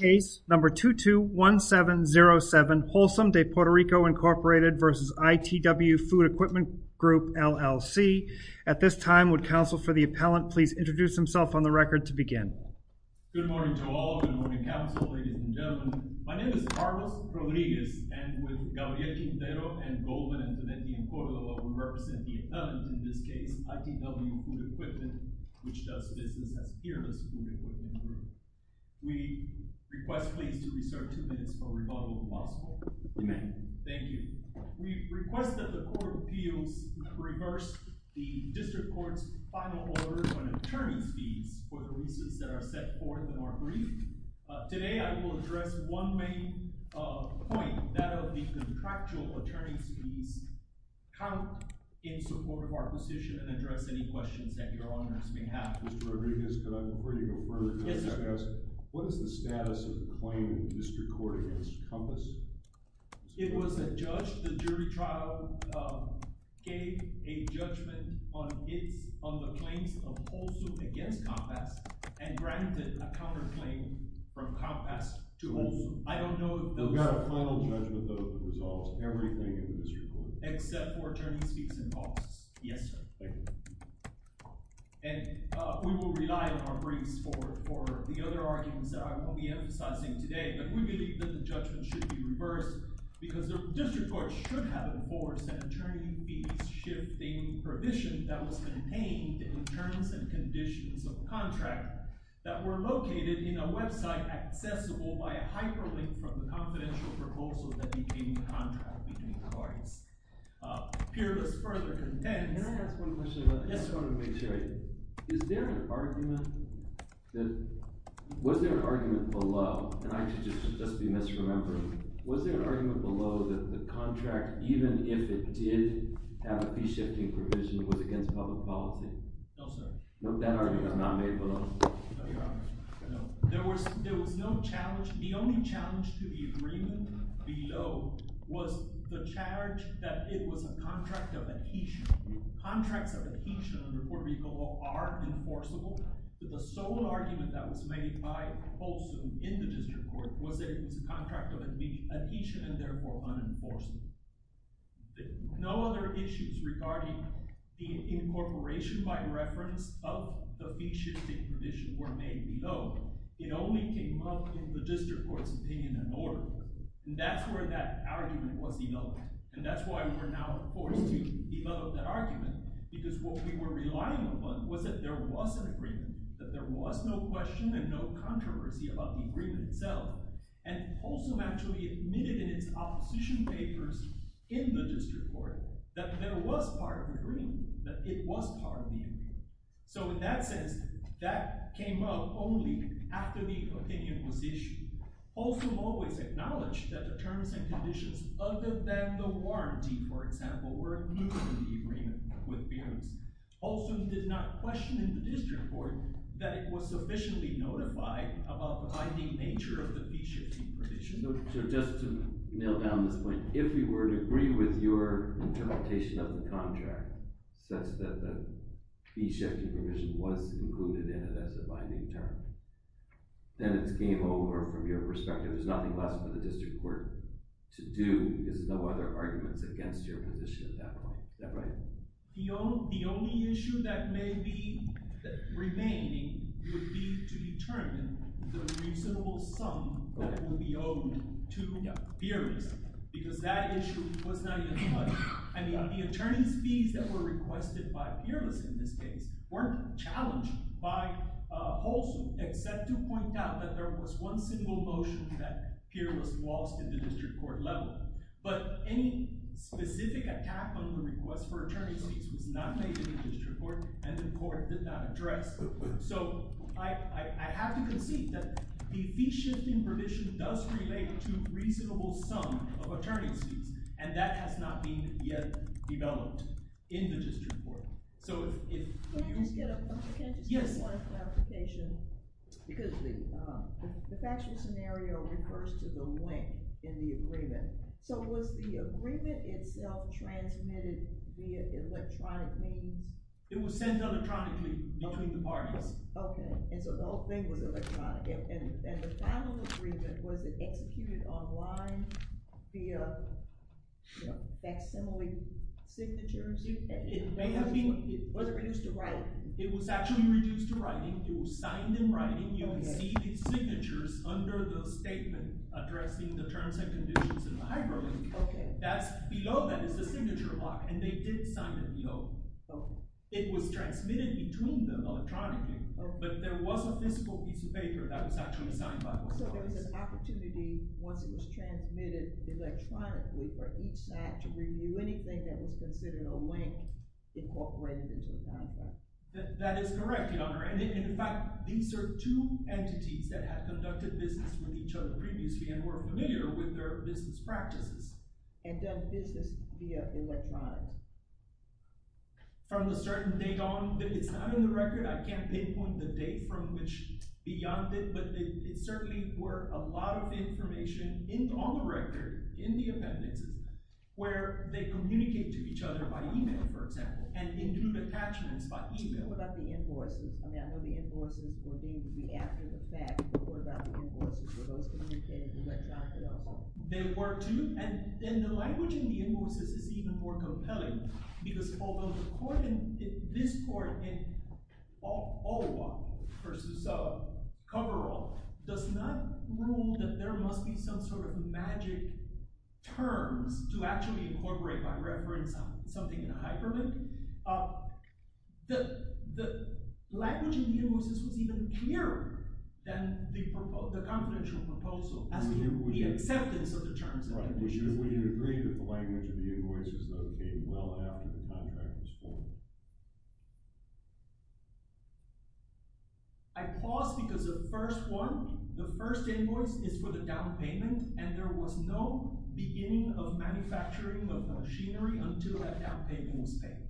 Case number 221707, Wholesome de Puerto Rico, Inc. v. ITW Food Equipment Group, LLC. At this time, would counsel for the appellant please introduce himself on the record to begin. Good morning to all. Good morning, counsel, ladies and gentlemen. My name is Carlos Rodriguez, and with Gabriel Quintero and Goldman and Fidenti and Cordova, we represent the appellant, in this case, ITW Food Equipment, which does business as here in this food equipment group. We request please to reserve two minutes for rebuttal, if possible. Amen. Thank you. We request that the court of appeals reverse the district court's final order on attorney's fees for the leases that are set forth in our brief. Today, I will address one main point, that of the contractual attorney's fees count in support of our position and address any questions that your What is the status of the claim in the district court against Compass? It was a judge. The jury trial gave a judgment on the claims of Wholesome against Compass and granted a counterclaim from Compass to Wholesome. I don't know if those... We've got a final judgment, though, that resolves everything in the district court. Except for attorney's fees and costs. Yes, sir. Thank you. And we will rely on our briefs for the other arguments that I will be emphasizing today, but we believe that the judgment should be reversed because the district court should have enforced an attorney fees shifting provision that was contained in terms and conditions of contract that were located in a website accessible by a hyperlink from the confidential proposal that became the contract between the parties. Peerless further contends... Can I ask one question? Yes, sir. Is there an argument that... Was there an argument below, and I could just be misremembering, was there an argument below that the contract, even if it did have a fee shifting provision, was against public policy? No, sir. No, that argument was not made below? No, there was no challenge. The only was the charge that it was a contract of adhesion. Contracts of adhesion under Puerto Rico Law are enforceable, but the sole argument that was made by Folsom in the district court was that it was a contract of adhesion and therefore unenforceable. No other issues regarding incorporation by reference of the fee shifting provision were made below. It only came up in the district court's opinion and order, and that's where that argument was developed, and that's why we were now forced to develop that argument, because what we were relying upon was that there was an agreement, that there was no question and no controversy about the agreement itself, and Folsom actually admitted in its opposition papers in the district court that there was part of the agreement, that it was part of the agreement. So in that sense, that came up only after the opinion was issued. Folsom always acknowledged that the terms and conditions other than the warranty, for example, were in agreement with Beers. Folsom did not question in the district court that it was sufficiently notified about the binding nature of the fee shifting provision. So just to nail down this point, if you were to agree with your interpretation of the contract such that the fee shifting provision was included in it as a binding term, then it's game over from your perspective. There's nothing left for the district court to do. There's no other arguments against your position at that point. Is that right? The only issue that may be remaining would be to determine the reasonable sum that would be owed to Peerless, because that issue was not even touched. I mean, the attorney's fees that were requested by Peerless in this case weren't challenged by Folsom, except to point out that there was one single motion that Peerless lost in the district court level. But any specific attack on the request for attorney's fees was not made in the district court, and the court did not address that. So I have to concede that the fee shifting provision does relate to a reasonable sum of attorney's fees, and that has not been yet developed in the district court. Can I just get one clarification? Because the factual scenario refers to the length in the agreement. So was the agreement itself transmitted via electronic means? It was sent electronically between the parties. Okay, and so the whole thing was electronic, and the final agreement, was it executed online via, you know, facsimile signatures? Was it reduced to writing? It was actually reduced to writing. It was signed in writing. You would see the signatures under the statement addressing the terms and conditions in the agreement. It was transmitted between them electronically, but there was a physical piece of paper that was actually signed by both parties. So there was an opportunity once it was transmitted electronically for each side to review anything that was considered a link incorporated into the contract? That is correct, Your Honor, and in fact, these are two entities that had conducted business with each other previously and were familiar with their business practices. And done business via electronic. From a certain date on? It's not in the record. I can't pinpoint the date from which beyond it, but it certainly were a lot of information on the record in the appendices where they communicate to each other by email, for example, and in group attachments by email. What about the invoices? I mean, I know the invoices were deemed to be after the fact, but what about the invoices? Were those communicated electronically at all? They were, too, and then the language in the invoices is even more compelling, because although the court in this court, in Olawa v. Coverall, does not rule that there must be some sort of magic terms to actually incorporate by reference something in a hyperlink, the language in the invoices was even clearer than the confidential proposal, as in the acceptance of the terms. Right. Would you agree that the language of the invoices that came well after the contract was formed? I pause because the first one, the first invoice is for the down payment, and there was no beginning of manufacturing of machinery until that down payment was paid.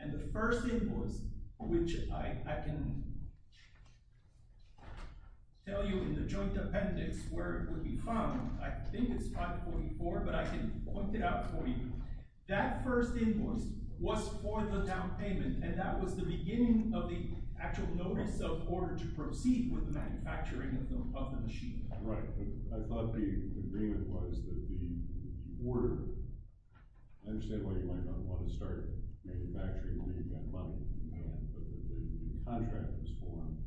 And the first invoice, which I can tell you in the joint appendix where I think it's 544, but I can point it out for you, that first invoice was for the down payment, and that was the beginning of the actual notice of order to proceed with the manufacturing of the machinery. Right, but I thought the agreement was that the order, I understand why you might not want to start manufacturing when you've got money, but the contract was formed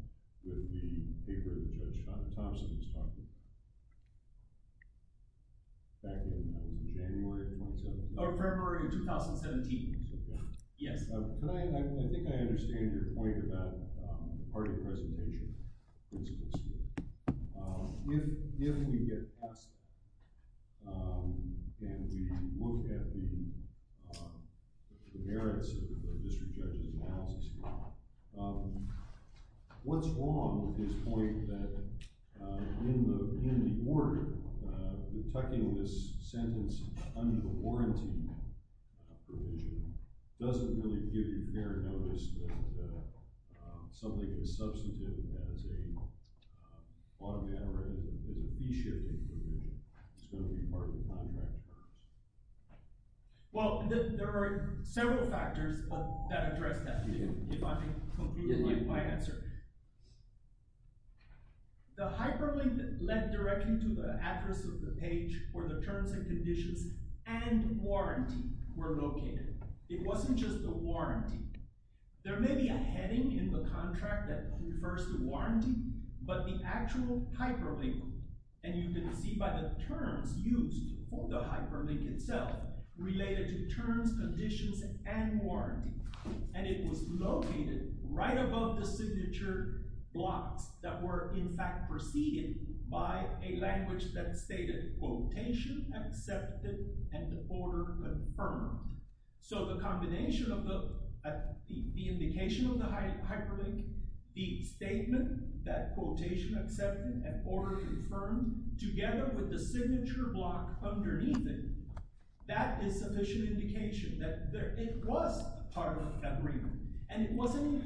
with the paper that Judge Thompson was talking about back in January 2017. Oh, February of 2017. Yes. I think I understand your point about the party presentation. If we get past that, and we look at the district judge's analysis here, what's wrong with his point that in the order, the tucking of this sentence under the warranty provision doesn't really give your parent notice that something as substantive as a bottom down or as a fee-shifting provision is going to be part of the contract? Well, there are several factors that address that. The hyperlink that led directly to the address of the page where the terms and conditions and warranty were located. It wasn't just the warranty. There may be a heading in the contract that refers to warranty, but the actual hyperlink, and you can see by the terms used for the hyperlink itself related to terms, conditions, and warranty, and it was located right above the signature blocks that were in fact preceded by a language that stated quotation accepted and order confirmed. So the combination of the indication of the hyperlink, the statement that quotation accepted and order confirmed together with the signature block underneath it, that is sufficient indication that it was part of the agreement, and it wasn't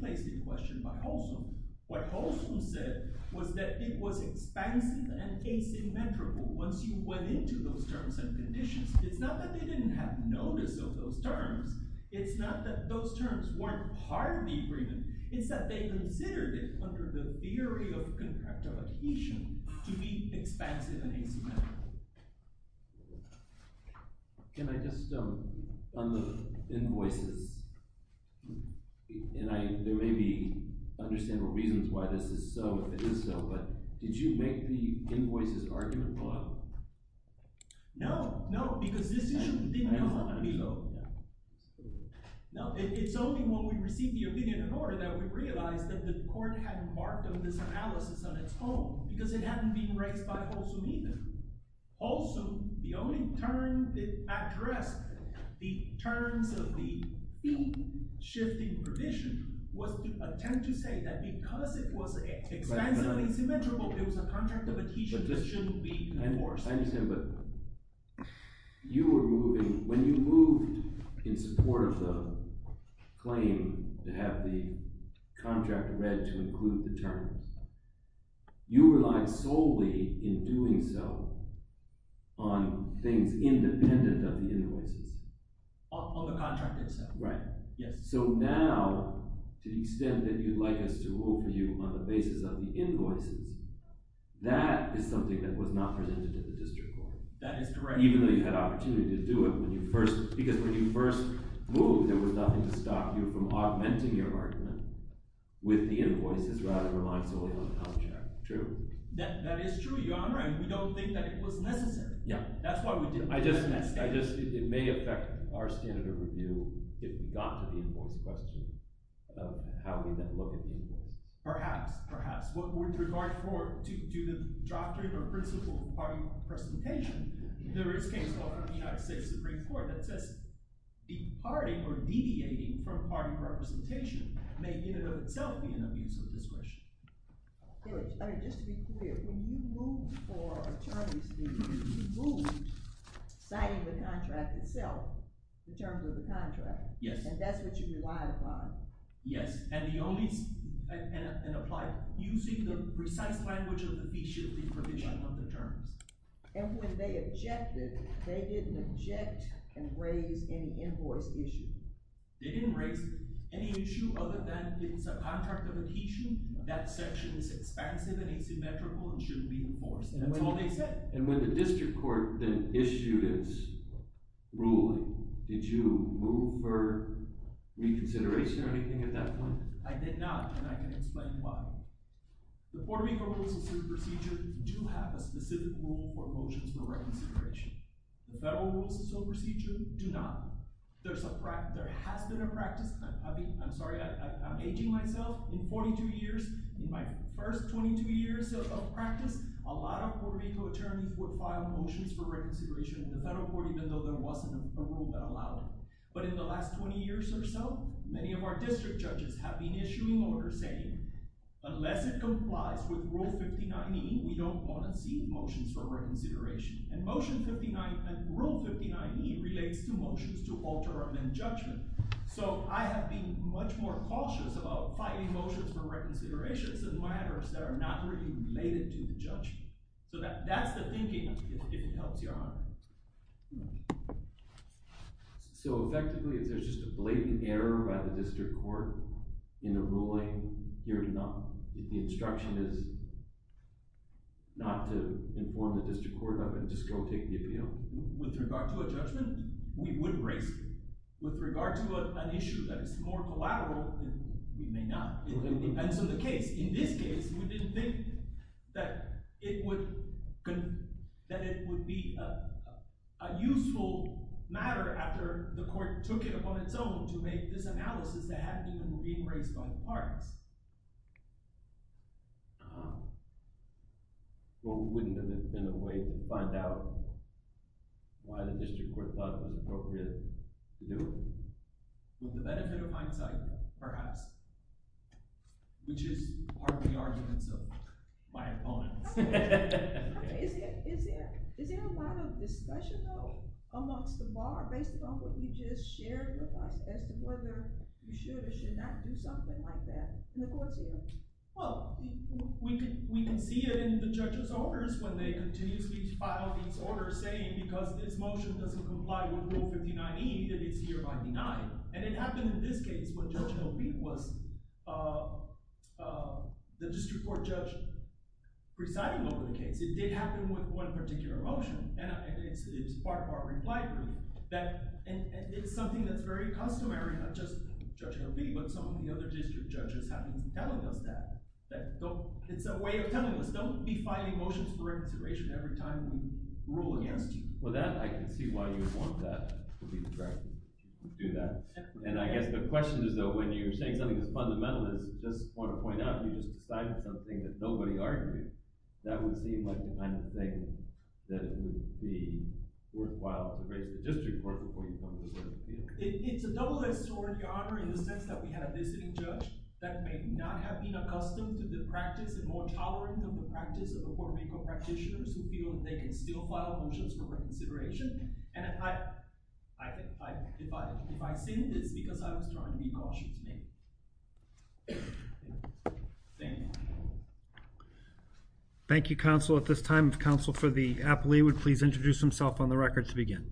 placed in question by Holson. What Holson said was that it was expansive and asymmetrical once you went into those terms and conditions. It's not that they didn't have notice of those terms. It's not that those terms weren't part of the agreement. It's that they considered it under the theory of contractual adhesion to be expansive and asymmetrical. Can I just, on the invoices, and I, there may be understandable reasons why this is so, if it is so, but did you make the invoices argument law? No, no, because this issue didn't come up. No, it's only when we received the opinion of the court that we realized that the court had embarked on this analysis on its own, because it hadn't been raised by Holson either. Holson, the only term that addressed the terms of the shifting provision was to attempt to say that because it was expansively asymmetrical, it was a contract of adhesion, it shouldn't be enforced. I understand, but you were moving, when you moved in support of the claim to have the contract read to include the terms, you relied solely in doing so on things independent of the invoices. On the contract itself. Right. So now, to the extent that you'd like us to rule for you on the basis of the invoices, that is something that was not presented to the district court. That is correct. Even though you had opportunity to do it when you first, because when you first moved, there was nothing to stop you from augmenting your argument with the invoices rather than relying solely on the contract. True. That is true, Your Honor, and we don't think that it was necessary. Yeah. That's why we did it. I just, it may affect our standard of review if we got to the invoice question, how we then look at the invoice. Perhaps, perhaps. With regard to the doctrine or principle of party representation, there is a case in the United States Supreme Court that says departing or deviating from party representation may in and of itself be an abuse of discretion. Good. I mean, just to be clear, when you moved for attorney's duties, you moved citing the contract itself, the terms of the contract. Yes. And that's what you relied upon. Yes, and the only, and applied using the precise language of the feasibility provision of the terms. And when they objected, they didn't object and raise any invoice issue. They didn't raise any issue other than it's a contract of adhesion. That section is expansive and asymmetrical and shouldn't be enforced. And that's all they said. And when the district court then issued its ruling, did you move for reconsideration or anything at that point? I did not, and I can explain why. The Puerto Rico Rules of Procedure do have a specific rule for motions for reconsideration. The Federal Rules of Procedure do not. There's a practice, there has been a practice. I'm sorry, I'm aging myself. In 42 years, in my first 22 years of practice, a lot of Puerto Rico attorneys would file motions for reconsideration in the federal court, even though there wasn't a rule that allowed it. But in the last 20 years or so, many of our district judges have been issuing orders saying, unless it complies with Rule 59e, we don't want to see motions for reconsideration. And Rule 59e relates to motions to alter or amend judgment. So I have been much more cautious about filing motions for reconsideration than matters that are not really related to the judgment. So that's the thinking, if it helps your honor. So effectively, is there just a blatant error by the district court in a ruling here to not, if the instruction is not to inform the district court of it, just go take the appeal? With regard to a judgment, we would raise it. With regard to an issue that is more collateral, we may not. It depends on the case. In this case, we didn't think that it would, would be a useful matter after the court took it upon its own to make this analysis that hadn't even been raised by the parties. Well, wouldn't it have been a way to find out why the district court thought it was appropriate to do it? With the benefit of hindsight, perhaps. Which is part of the arguments of my opponents. Is there a lot of discussion, though, amongst the bar, based upon what you just shared with us, as to whether you should or should not do something like that in the court's hearings? Well, we can see it in the judge's orders when they continuously file these orders, saying because this motion doesn't comply with Rule 59e, that it's hereby denied. And it happened in this case when Judge O'Bee was the district court judge presiding over the case. It did happen with one particular motion, and it's part of our reply group. And it's something that's very customary, not just Judge O'Bee, but some of the other district judges have been telling us that. It's a way of telling us, don't be filing motions for reconsideration every time we rule against you. With that, I can see why you would want that to be the direction you would do that. And I guess the question is, though, when you're saying something as fundamental as you just want to point out you just decided something that nobody argued, that would seem like the kind of thing that would be worthwhile to raise to the district court before you go to the court of appeals. It's a double-edged sword, Your Honor, in the sense that we had a visiting judge that may not have been accustomed to the practice and more tolerant of the practice of the reconsideration, and if I've seen this, it's because I was trying to be cautious, maybe. Thank you. Thank you, counsel. At this time, counsel for the appellee would please introduce himself on the record to begin.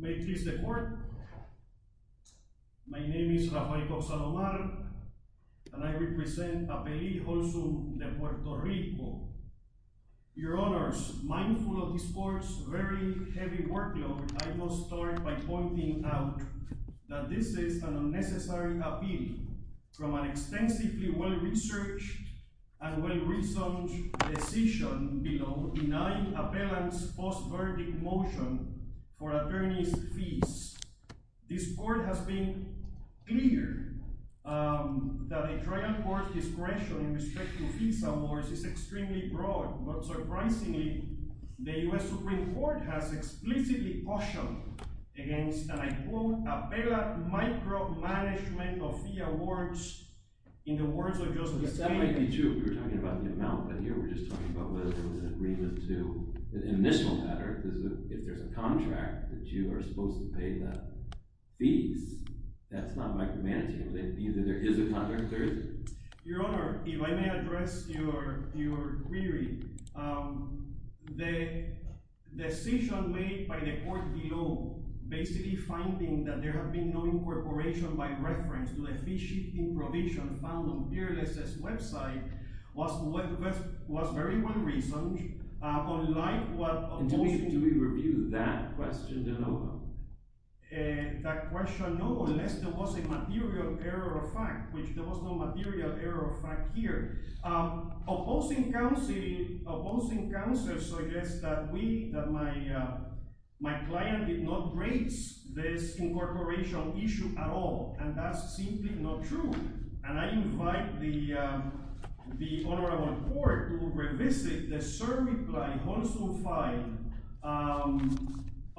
May it please the court. My name is Rafael Cox-Salomar, and I represent Appellee Olson de Puerto Rico. Your Honors, mindful of this court's very heavy workload, I will start by pointing out that this is an unnecessary appeal from an extensively well-researched and well-reasoned decision below, denied appellant's post-verdict motion for attorney's fees. This court has been clear that the trial court's discretion in respect to visa wars is extremely broad, but surprisingly, the U.S. Supreme Court has explicitly cautioned against, and I quote, "...appellant micromanagement of fee awards in the words of Justice Kagan." That might be true if you're talking about the amount, but here we're just talking about whether there was an agreement to, in this matter, if there's a contract that you are supposed to pay the fees. That's not micromanaging. Either there is a contract, or is there? Your Honor, if I may address your query, the decision made by the court below, basically finding that there had been no incorporation by reference to the fee-shifting provision found on Peerless's website, was very well-reasoned, unlike what... And do we review that question at all? That question, no, unless there was a material error of fact, which there was no material error of fact here. Opposing counsel suggests that my client did not raise this incorporation issue at all, and that's simply not true. And I invite the Honorable Court to revisit the cert reply, Holsum 5,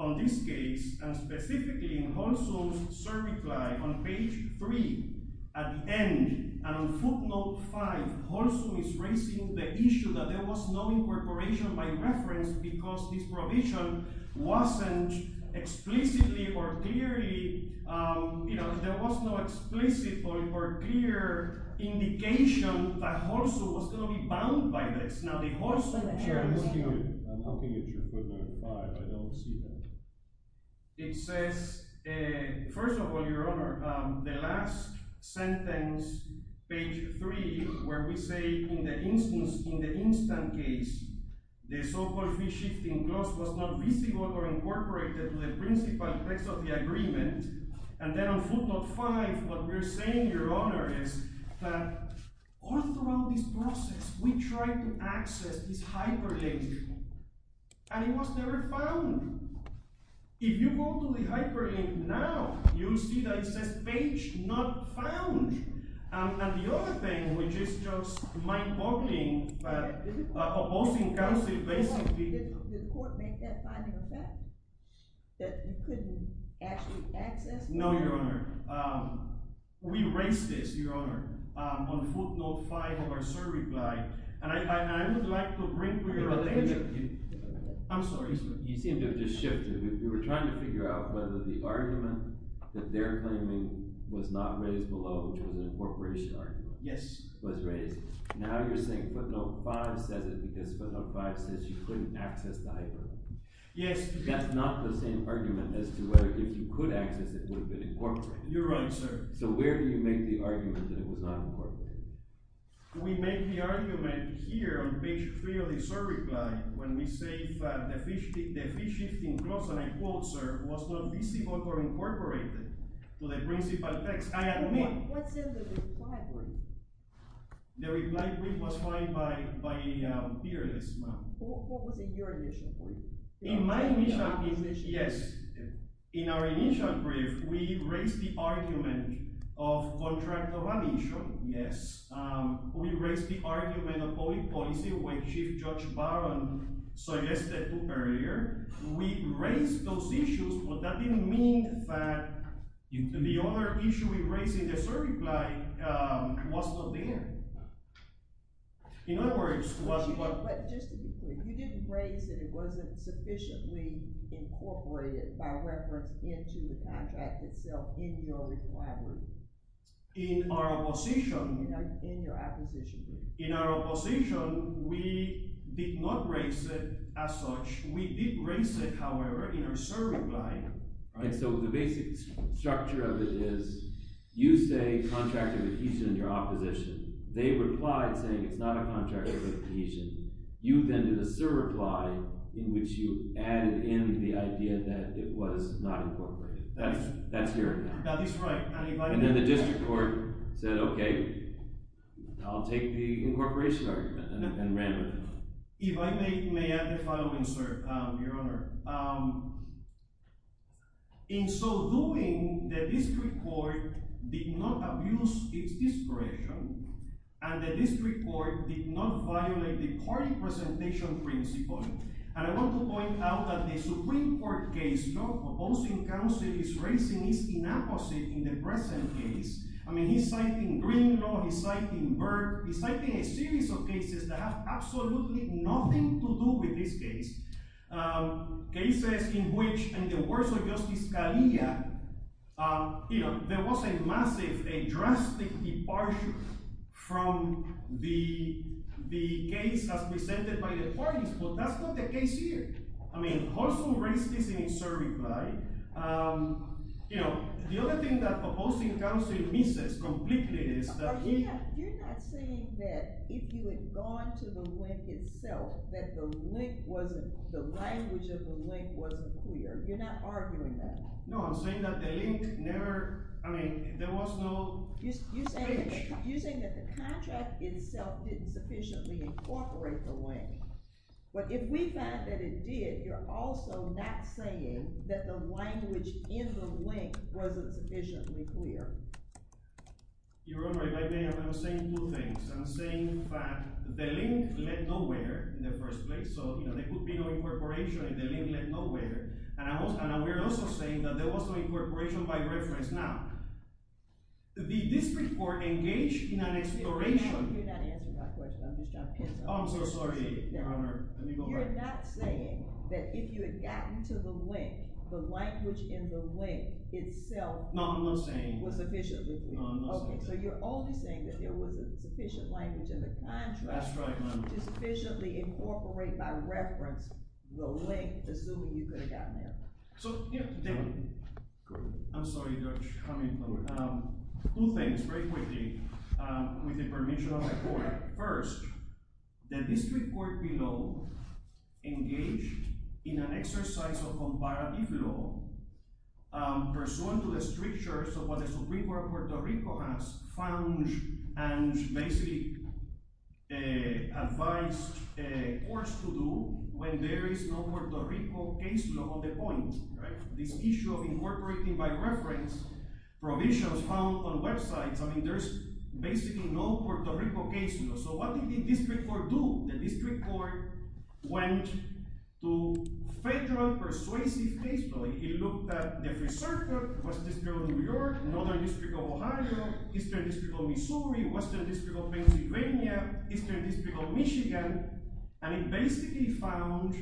on this case, and specifically in Holsum's cert reply on page 3, at the end, and on footnote 5, Holsum is raising the issue that there was no incorporation by reference because this provision wasn't explicitly or clearly... There was no clear indication that Holsum was going to be bound by this. Now, the Holsum... I'm looking at your footnote 5. I don't see that. It says, first of all, Your Honor, the last sentence, page 3, where we say in the instance, in the instant case, the so-called fee-shifting clause was not visible or incorporated to the principal text of the agreement. And then on footnote 5, what we're saying, Your Honor, is that all throughout this process, we tried to access this hyperlink, and it was never found. If you go to the hyperlink now, you'll see that it says page not found. And the other thing, which is just mind-boggling, but opposing counsel basically... Did the court make that finding a fact? That you couldn't actually access it? No, Your Honor. We raised this, Your Honor, on footnote 5 of our survey guide, and I would like to bring to your attention... I'm sorry. You seem to have just shifted. We were trying to figure out whether the argument that they're claiming was not raised below, which was an incorporation argument, was raised. Now you're saying footnote 5 says it because footnote 5 says you couldn't access the hyperlink. Yes. That's not the same argument as to whether if you could access it, it would have been incorporated. You're right, sir. So where do you make the argument that it was not incorporated? We make the argument here on page 3 of the survey guide, when we say the fee-shifting clause, and I quote, sir, was not visible or incorporated to the principal text. I admit... What's in the reply brief? The reply brief was fined by a peer this month. What was in your initial brief? In my initial brief, yes, in our initial brief, we raised the argument of contract of admission. Yes. We raised the argument of public policy, which Chief Judge Barron suggested earlier. We raised those issues, but that didn't mean that the other issue we raised in the survey guide was not there. In other words... But just to be clear, you didn't raise that it wasn't sufficiently incorporated by reference into the contract itself in your reply brief. In our opposition... In your opposition brief. In our opposition, we did not raise it as such. We did raise it, however, in our survey guide. So the basic structure of it is, you say contract of adhesion in your opposition. They replied saying it's not a contract of adhesion. You then did a surreply in which you added in the idea that it was not incorporated. That's your... That is right. And then the district court said, okay, I'll take the incorporation argument and ran with it. If I may add the final insert, Your Honor, in so doing, the district court did not abuse its discretion and the district court did not violate the court presentation principle. And I want to point out that the Supreme Court case your opposing counsel is raising is inapposite in the present case. I mean, he's citing Green law, he's citing Burke, he's citing a series of cases that have absolutely nothing to do with this case. Cases in which in the words of Justice Scalia, you know, there was a massive, a drastic departure from the case as presented by the parties, but that's not the case here. I mean, Hulson raised this in his surreply. You know, the other thing that opposing counsel misses completely is that he... You're not saying that if you had gone to the link itself that the link wasn't... the language of the link wasn't clear. You're not arguing that. No, I'm saying that the link never... I mean, there was no... You're saying that the contract itself didn't sufficiently incorporate the link. But if we find that it did, you're also not saying that the language in the link wasn't sufficiently clear. Your Honor, if I may, I'm saying two things. I'm saying that the link led nowhere in the first place, so, you know, there could be no incorporation if the link led nowhere. And we're also saying that there was no incorporation by reference. Now, did this report engage in an exploration... Your Honor, you're not answering my question. I'm just trying to... Oh, I'm so sorry, Your Honor. Let me go back. You're not saying that if you had gotten to the link the language in the link itself... No, I'm not saying that. ...was sufficiently clear. No, I'm not saying that. So you're only saying that there wasn't sufficient language in the contract... That's right, Your Honor. ...to sufficiently incorporate by reference the link, assuming you could have gotten there. So... I'm sorry, Judge. Two things, very quickly, with the permission of the Court. First, the district court below engaged in an exercise of comparative law pursuant to the strictures of what the Supreme Court of Puerto Rico has found and basically advised courts to do when there is no Puerto Rico case law on the point. This issue of incorporating by reference provisions found on websites, I mean, there's basically no Puerto Rico case law. So what did the district court do? The district court went to federal persuasive case law. It looked at the free circuit West District of New York, Northern District of Ohio, Eastern District of Missouri, Western District of Pennsylvania, Eastern District of Michigan, and it basically found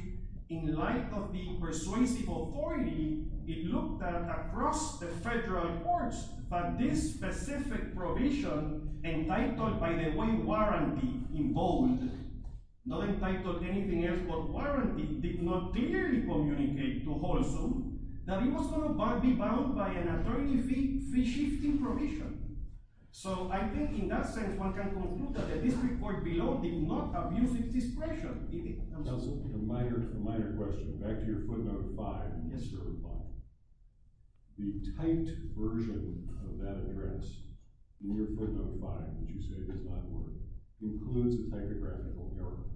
in light of the persuasive authority, it looked at across the federal courts that this specific provision entitled by the Wayne Warranty, in bold, not entitled anything else but Warranty, did not clearly communicate to Holson that it was going to be bound by an authority free-shifting provision. So I think in that sense one can conclude that the district court below did not abuse its discretion in it. A minor question. Back to your footnote 5. Yes, sir. The typed version of that address in your footnote 5 that you say does not work includes a typographical error.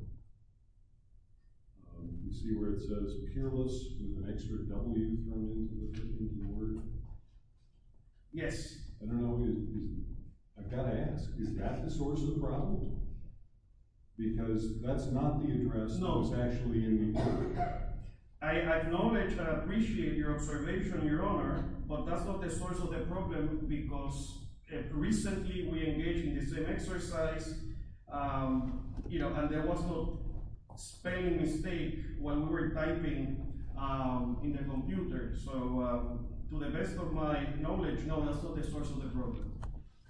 You see where it says peerless with an extra W in the word? Yes. I've got to ask, is that the source of the problem? Because that's not the address that was actually in the footnote. I acknowledge and appreciate your observation, Your Honor, but that's not the source of the problem because recently we engaged in the same exercise and there was no spanning mistake when we were typing in the computer. To the best of my knowledge, no, that's not the source of the problem.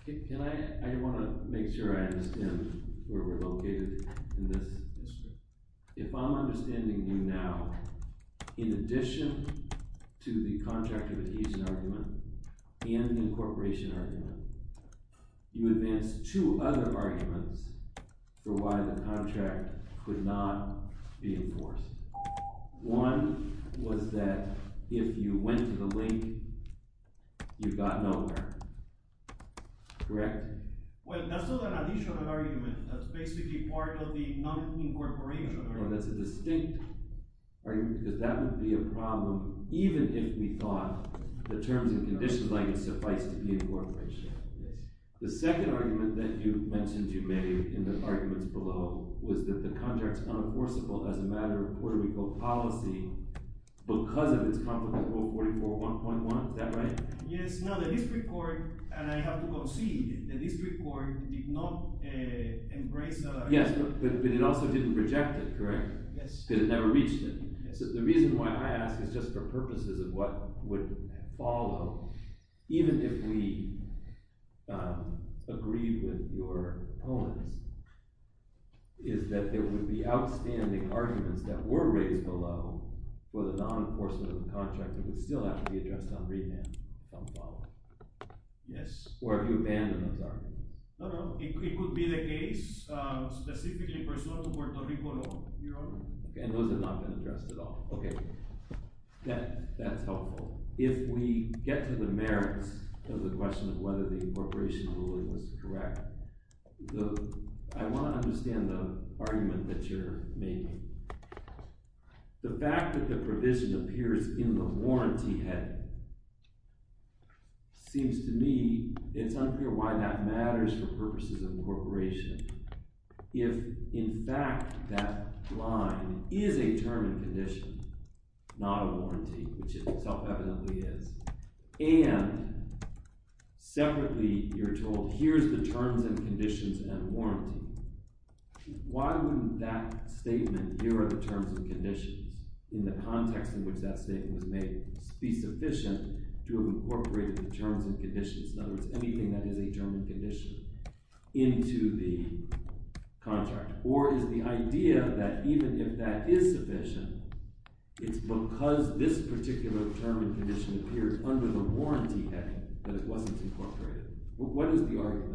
I want to make sure I understand where we're located in this. If I'm understanding you now, in addition to the contractor adhesion argument and the incorporation argument, you advance two other arguments for why the contract could not be enforced. One was that if you went to the link you got nowhere. Correct? Well, that's not an adhesion argument. That's basically part of the non-incorporation argument. That's a distinct argument because that would be a problem even if we thought the terms and conditions suffice to be incorporation. The second argument that you mentioned you made in the arguments below was that the contract is unenforceable as a matter of Puerto Rico policy because of its Conflict Rule 44.1.1. Is that right? Yes, no, the district court and I have to go see the district court did not embrace Yes, but it also didn't reject it, correct? Yes. Because it never reached it. The reason why I ask is just for purposes of what would follow even if we agreed with your opponents is that there would be outstanding arguments that were raised below for the non-enforcement of the contract that would still have to be addressed on remand to follow. Or have you abandoned those arguments? No, no, it could be the case specifically in Puerto Rico, no. And those have not been addressed at all. That's helpful. If we get to the merits of the question of whether the incorporation ruling was correct I want to understand the argument that you're making. The fact that the provision appears in the warranty heading seems to me it's unclear why that matters for purposes of incorporation if in fact that line is a term and condition, not a warranty which it self-evidently is and separately you're told here's the terms and conditions and warranty why would that statement, here are the terms and conditions in the context in which that statement was made be sufficient to incorporate the terms and conditions, in other words anything that is a term and condition into the contract or is the idea that even if that is sufficient it's because this particular term and condition appears under the warranty heading that it wasn't incorporated what is the argument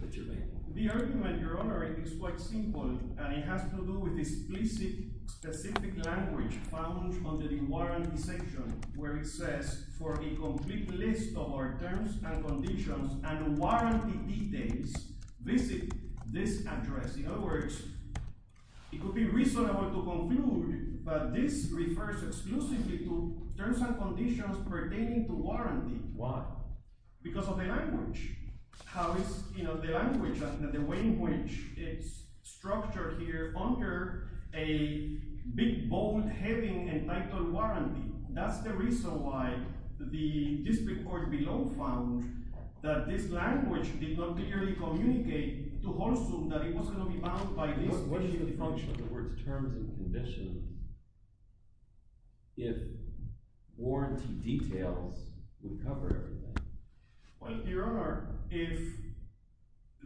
that you're making? The argument, Your Honor, is quite simple and it has to do with explicit specific language found under the warranty section where it says for a complete list of our terms and conditions and warranty details visit this address. In other words it would be reasonable to conclude that this refers exclusively to terms and conditions pertaining to warranty Why? Because of the language how is the language, the way in which it's structured here under a big bold heading entitled warranty. That's the reason why the district court below found that this language did not clearly communicate to Holsum that it was going to be bound by this. What is the function of the words terms and conditions? if warranty details would cover everything Well, Your Honor, if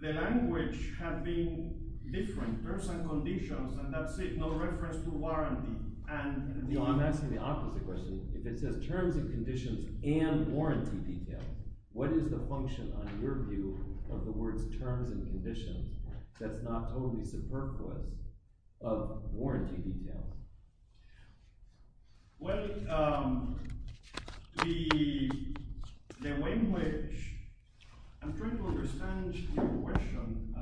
the language had been different terms and conditions and that's it no reference to warranty I'm asking the opposite question if it says terms and conditions and warranty detail what is the function on your view of the words terms and conditions that's not totally superfluous of warranty details well the language I'm trying to understand your question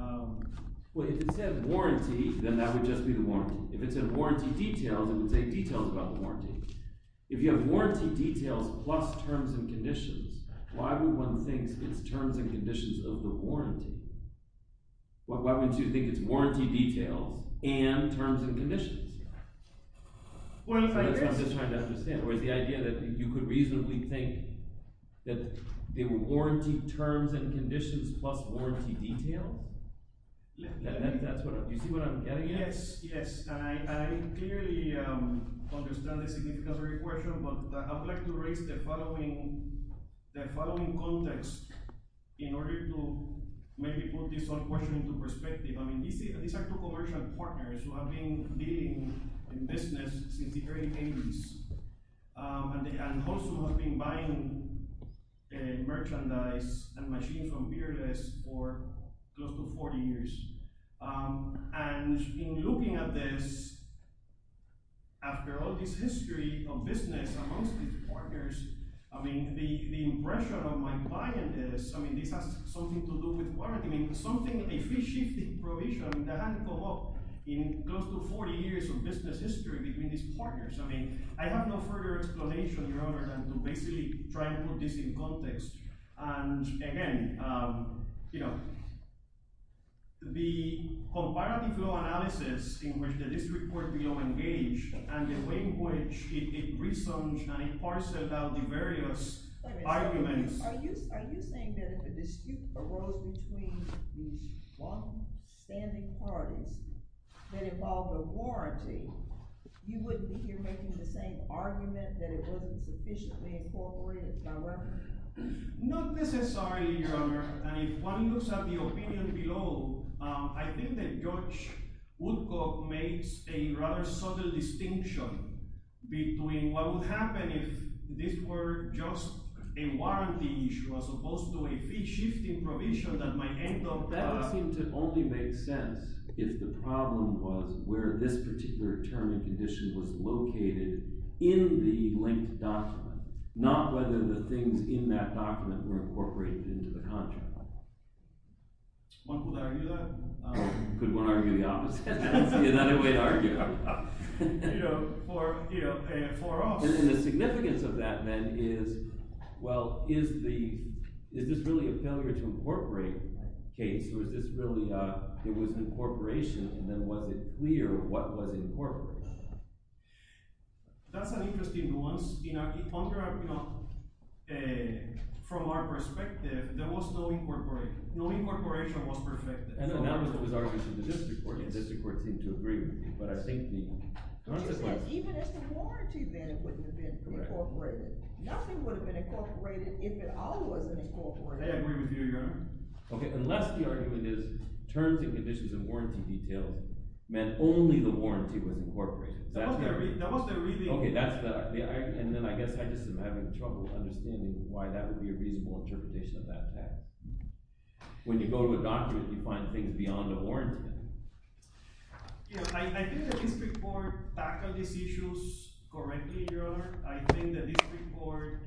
well if it said warranty then that would just be the warranty if it said warranty details it would say details about the warranty if you have warranty details plus terms and conditions why would one think it's terms and conditions of the warranty why would you think it's warranty details and terms and conditions well I'm just trying to understand the idea that you could reasonably think that they were warranty terms and conditions plus warranty details you see what I'm getting at yes, yes I clearly understand the significance of your question but I would like to raise the following context in order to maybe put this question into perspective these are two commercial partners who have been dealing in business since the early 80s and also have been buying merchandise and machines from Peerless for close to 40 years and in looking at this after all this history of business amongst these partners I mean the impression of my client is this has something to do with warranty something, a free-shifting provision that hadn't come up in close to 40 years of business history between these partners I have no further explanation other than to basically try to put this in context and again you know the comparative law analysis in which the district court below engaged and the way in which it resumed and it parcelled out the various arguments are you saying that if a dispute arose between these one standing parties that involved a warranty you wouldn't be here making the same argument that it wasn't sufficiently incorporated by revenue not necessarily your honor and if one looks at the opinion below I think that Judge Woodcock makes a rather subtle distinction between what would happen if this were just a warranty issue as opposed to a free-shifting provision that might end up that would seem to only make sense if the problem was where this particular term and condition was located in the linked document not whether the things in that document were incorporated into the contract one could argue that could one argue the opposite that's another way to argue for us and the significance of that then is well is the is this really a failure to incorporate case or is this really it was an incorporation and then was it clear what was incorporated that's an interesting nuance from our perspective there was no incorporation no incorporation was perfected the district court seemed to agree but I think even if it's a warranty then it wouldn't have been incorporated nothing would have been incorporated if it all wasn't incorporated they agree with you your honor unless the argument is terms and conditions and warranty details meant only the warranty was incorporated and then I guess I just am having trouble understanding why that would be a reasonable interpretation of that fact when you go to a document you find things beyond the warranty I think the district court tackled these issues correctly your honor I think the district court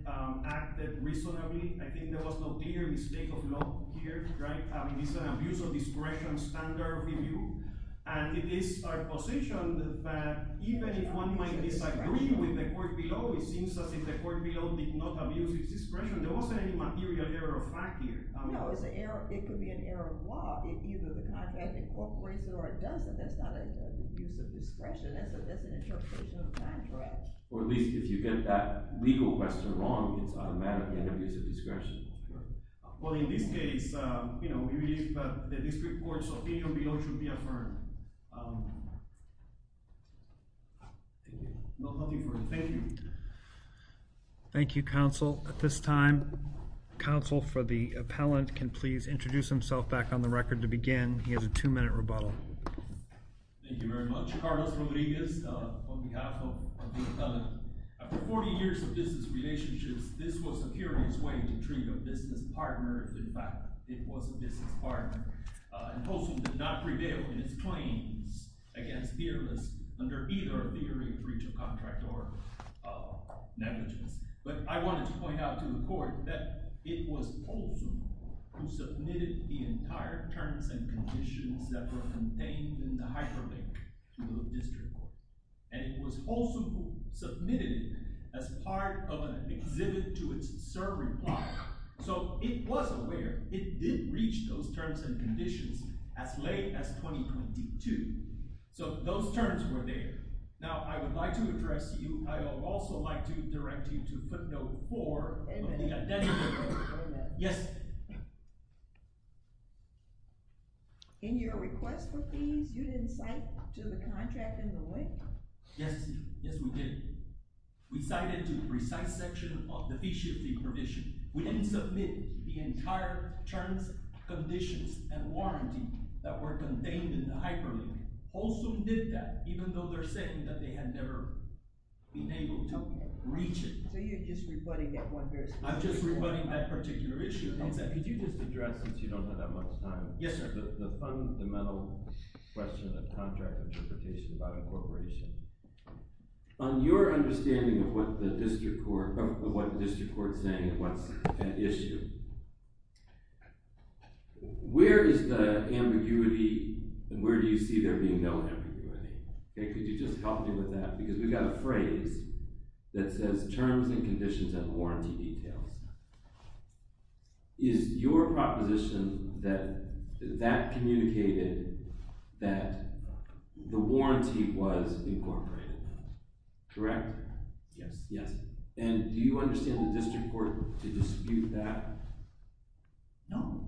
acted reasonably I think there was no clear mistake of law here I mean it's an abuse of discretion standard review and it is our position that even if one might disagree with the court below it seems as if the court below did not abuse its discretion there wasn't any material error of fact here it could be an error of law if either the contract incorporates it or it doesn't that's not an abuse of discretion that's an interpretation of a contract or at least if you get that legal question wrong it's automatically an abuse of discretion well in this case the district court's opinion below should be affirmed nothing further thank you thank you counsel at this time counsel for the appellant can please introduce himself back on the record to begin he has a two minute rebuttal thank you very much Carlos Rodriguez on behalf of the appellant after 40 years of business relationships this was a curious way to treat a business partner in fact it was a business partner and Polson did not prevail in its claims against fearless under either theory of breach of contract or negligence but I wanted to point out to the court that it was Polson who submitted the entire terms and conditions that were contained in the hyperlink to the district court and it was Polson who submitted as part of an exhibit to its sir reply so it was aware it did reach those terms and conditions as late as 2022 so those terms were there now I would like to address you I would also like to direct you to footnote four yes in your request for fees you didn't cite to the contract in the link yes we did we cited to the precise section of the fee shifting provision we didn't submit the entire terms conditions and warranty that were contained in the hyperlink Polson did that even though they're saying that they had never been able to reach it I'm just rebutting that particular issue since you don't have that much time the fundamental question of contract interpretation about incorporation on your understanding of what the district court is saying and what's an issue where is the ambiguity and where do you see there being no ambiguity could you just help me with that because we've got a phrase that says terms and conditions and warranty details is your proposition that that communicated that the warranty was incorporated correct? yes and do you understand the district court to dispute that no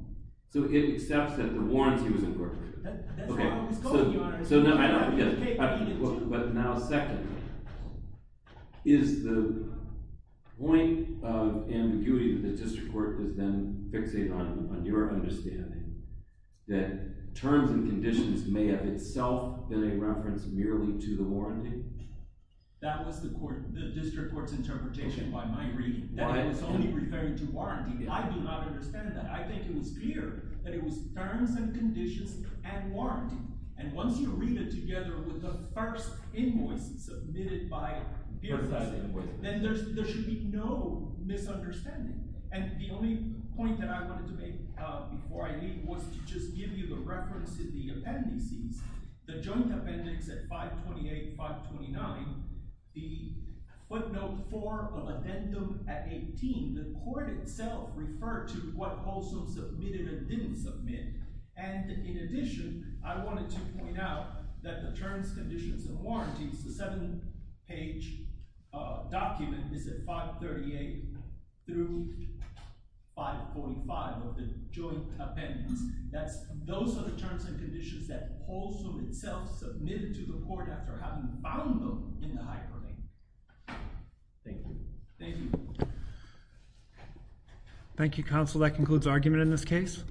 so it accepts that the warranty was incorporated that's where I was going your honor but now second is the point of ambiguity that the district court does then fixate on on your understanding that terms and conditions may have itself been a reference merely to the warranty that was the district court's interpretation by my reading that it was only referring to warranty I do not understand that I think it was clear that it was terms and conditions and warranty and once you read it together with the first invoice submitted by then there should be no misunderstanding and the only point that I wanted to make before I leave was to just give you the reference in the appendices the joint appendix at 528 529 the footnote for the addendum at 18 the court itself referred to what also submitted and didn't submit and in addition I wanted to point out that the terms conditions and warranties the seven page document is at 538 through 545 of the joint appendix those are the terms and conditions that Polson itself submitted to the court after having found them in the hyperlink thank you thank you counsel that concludes argument in this case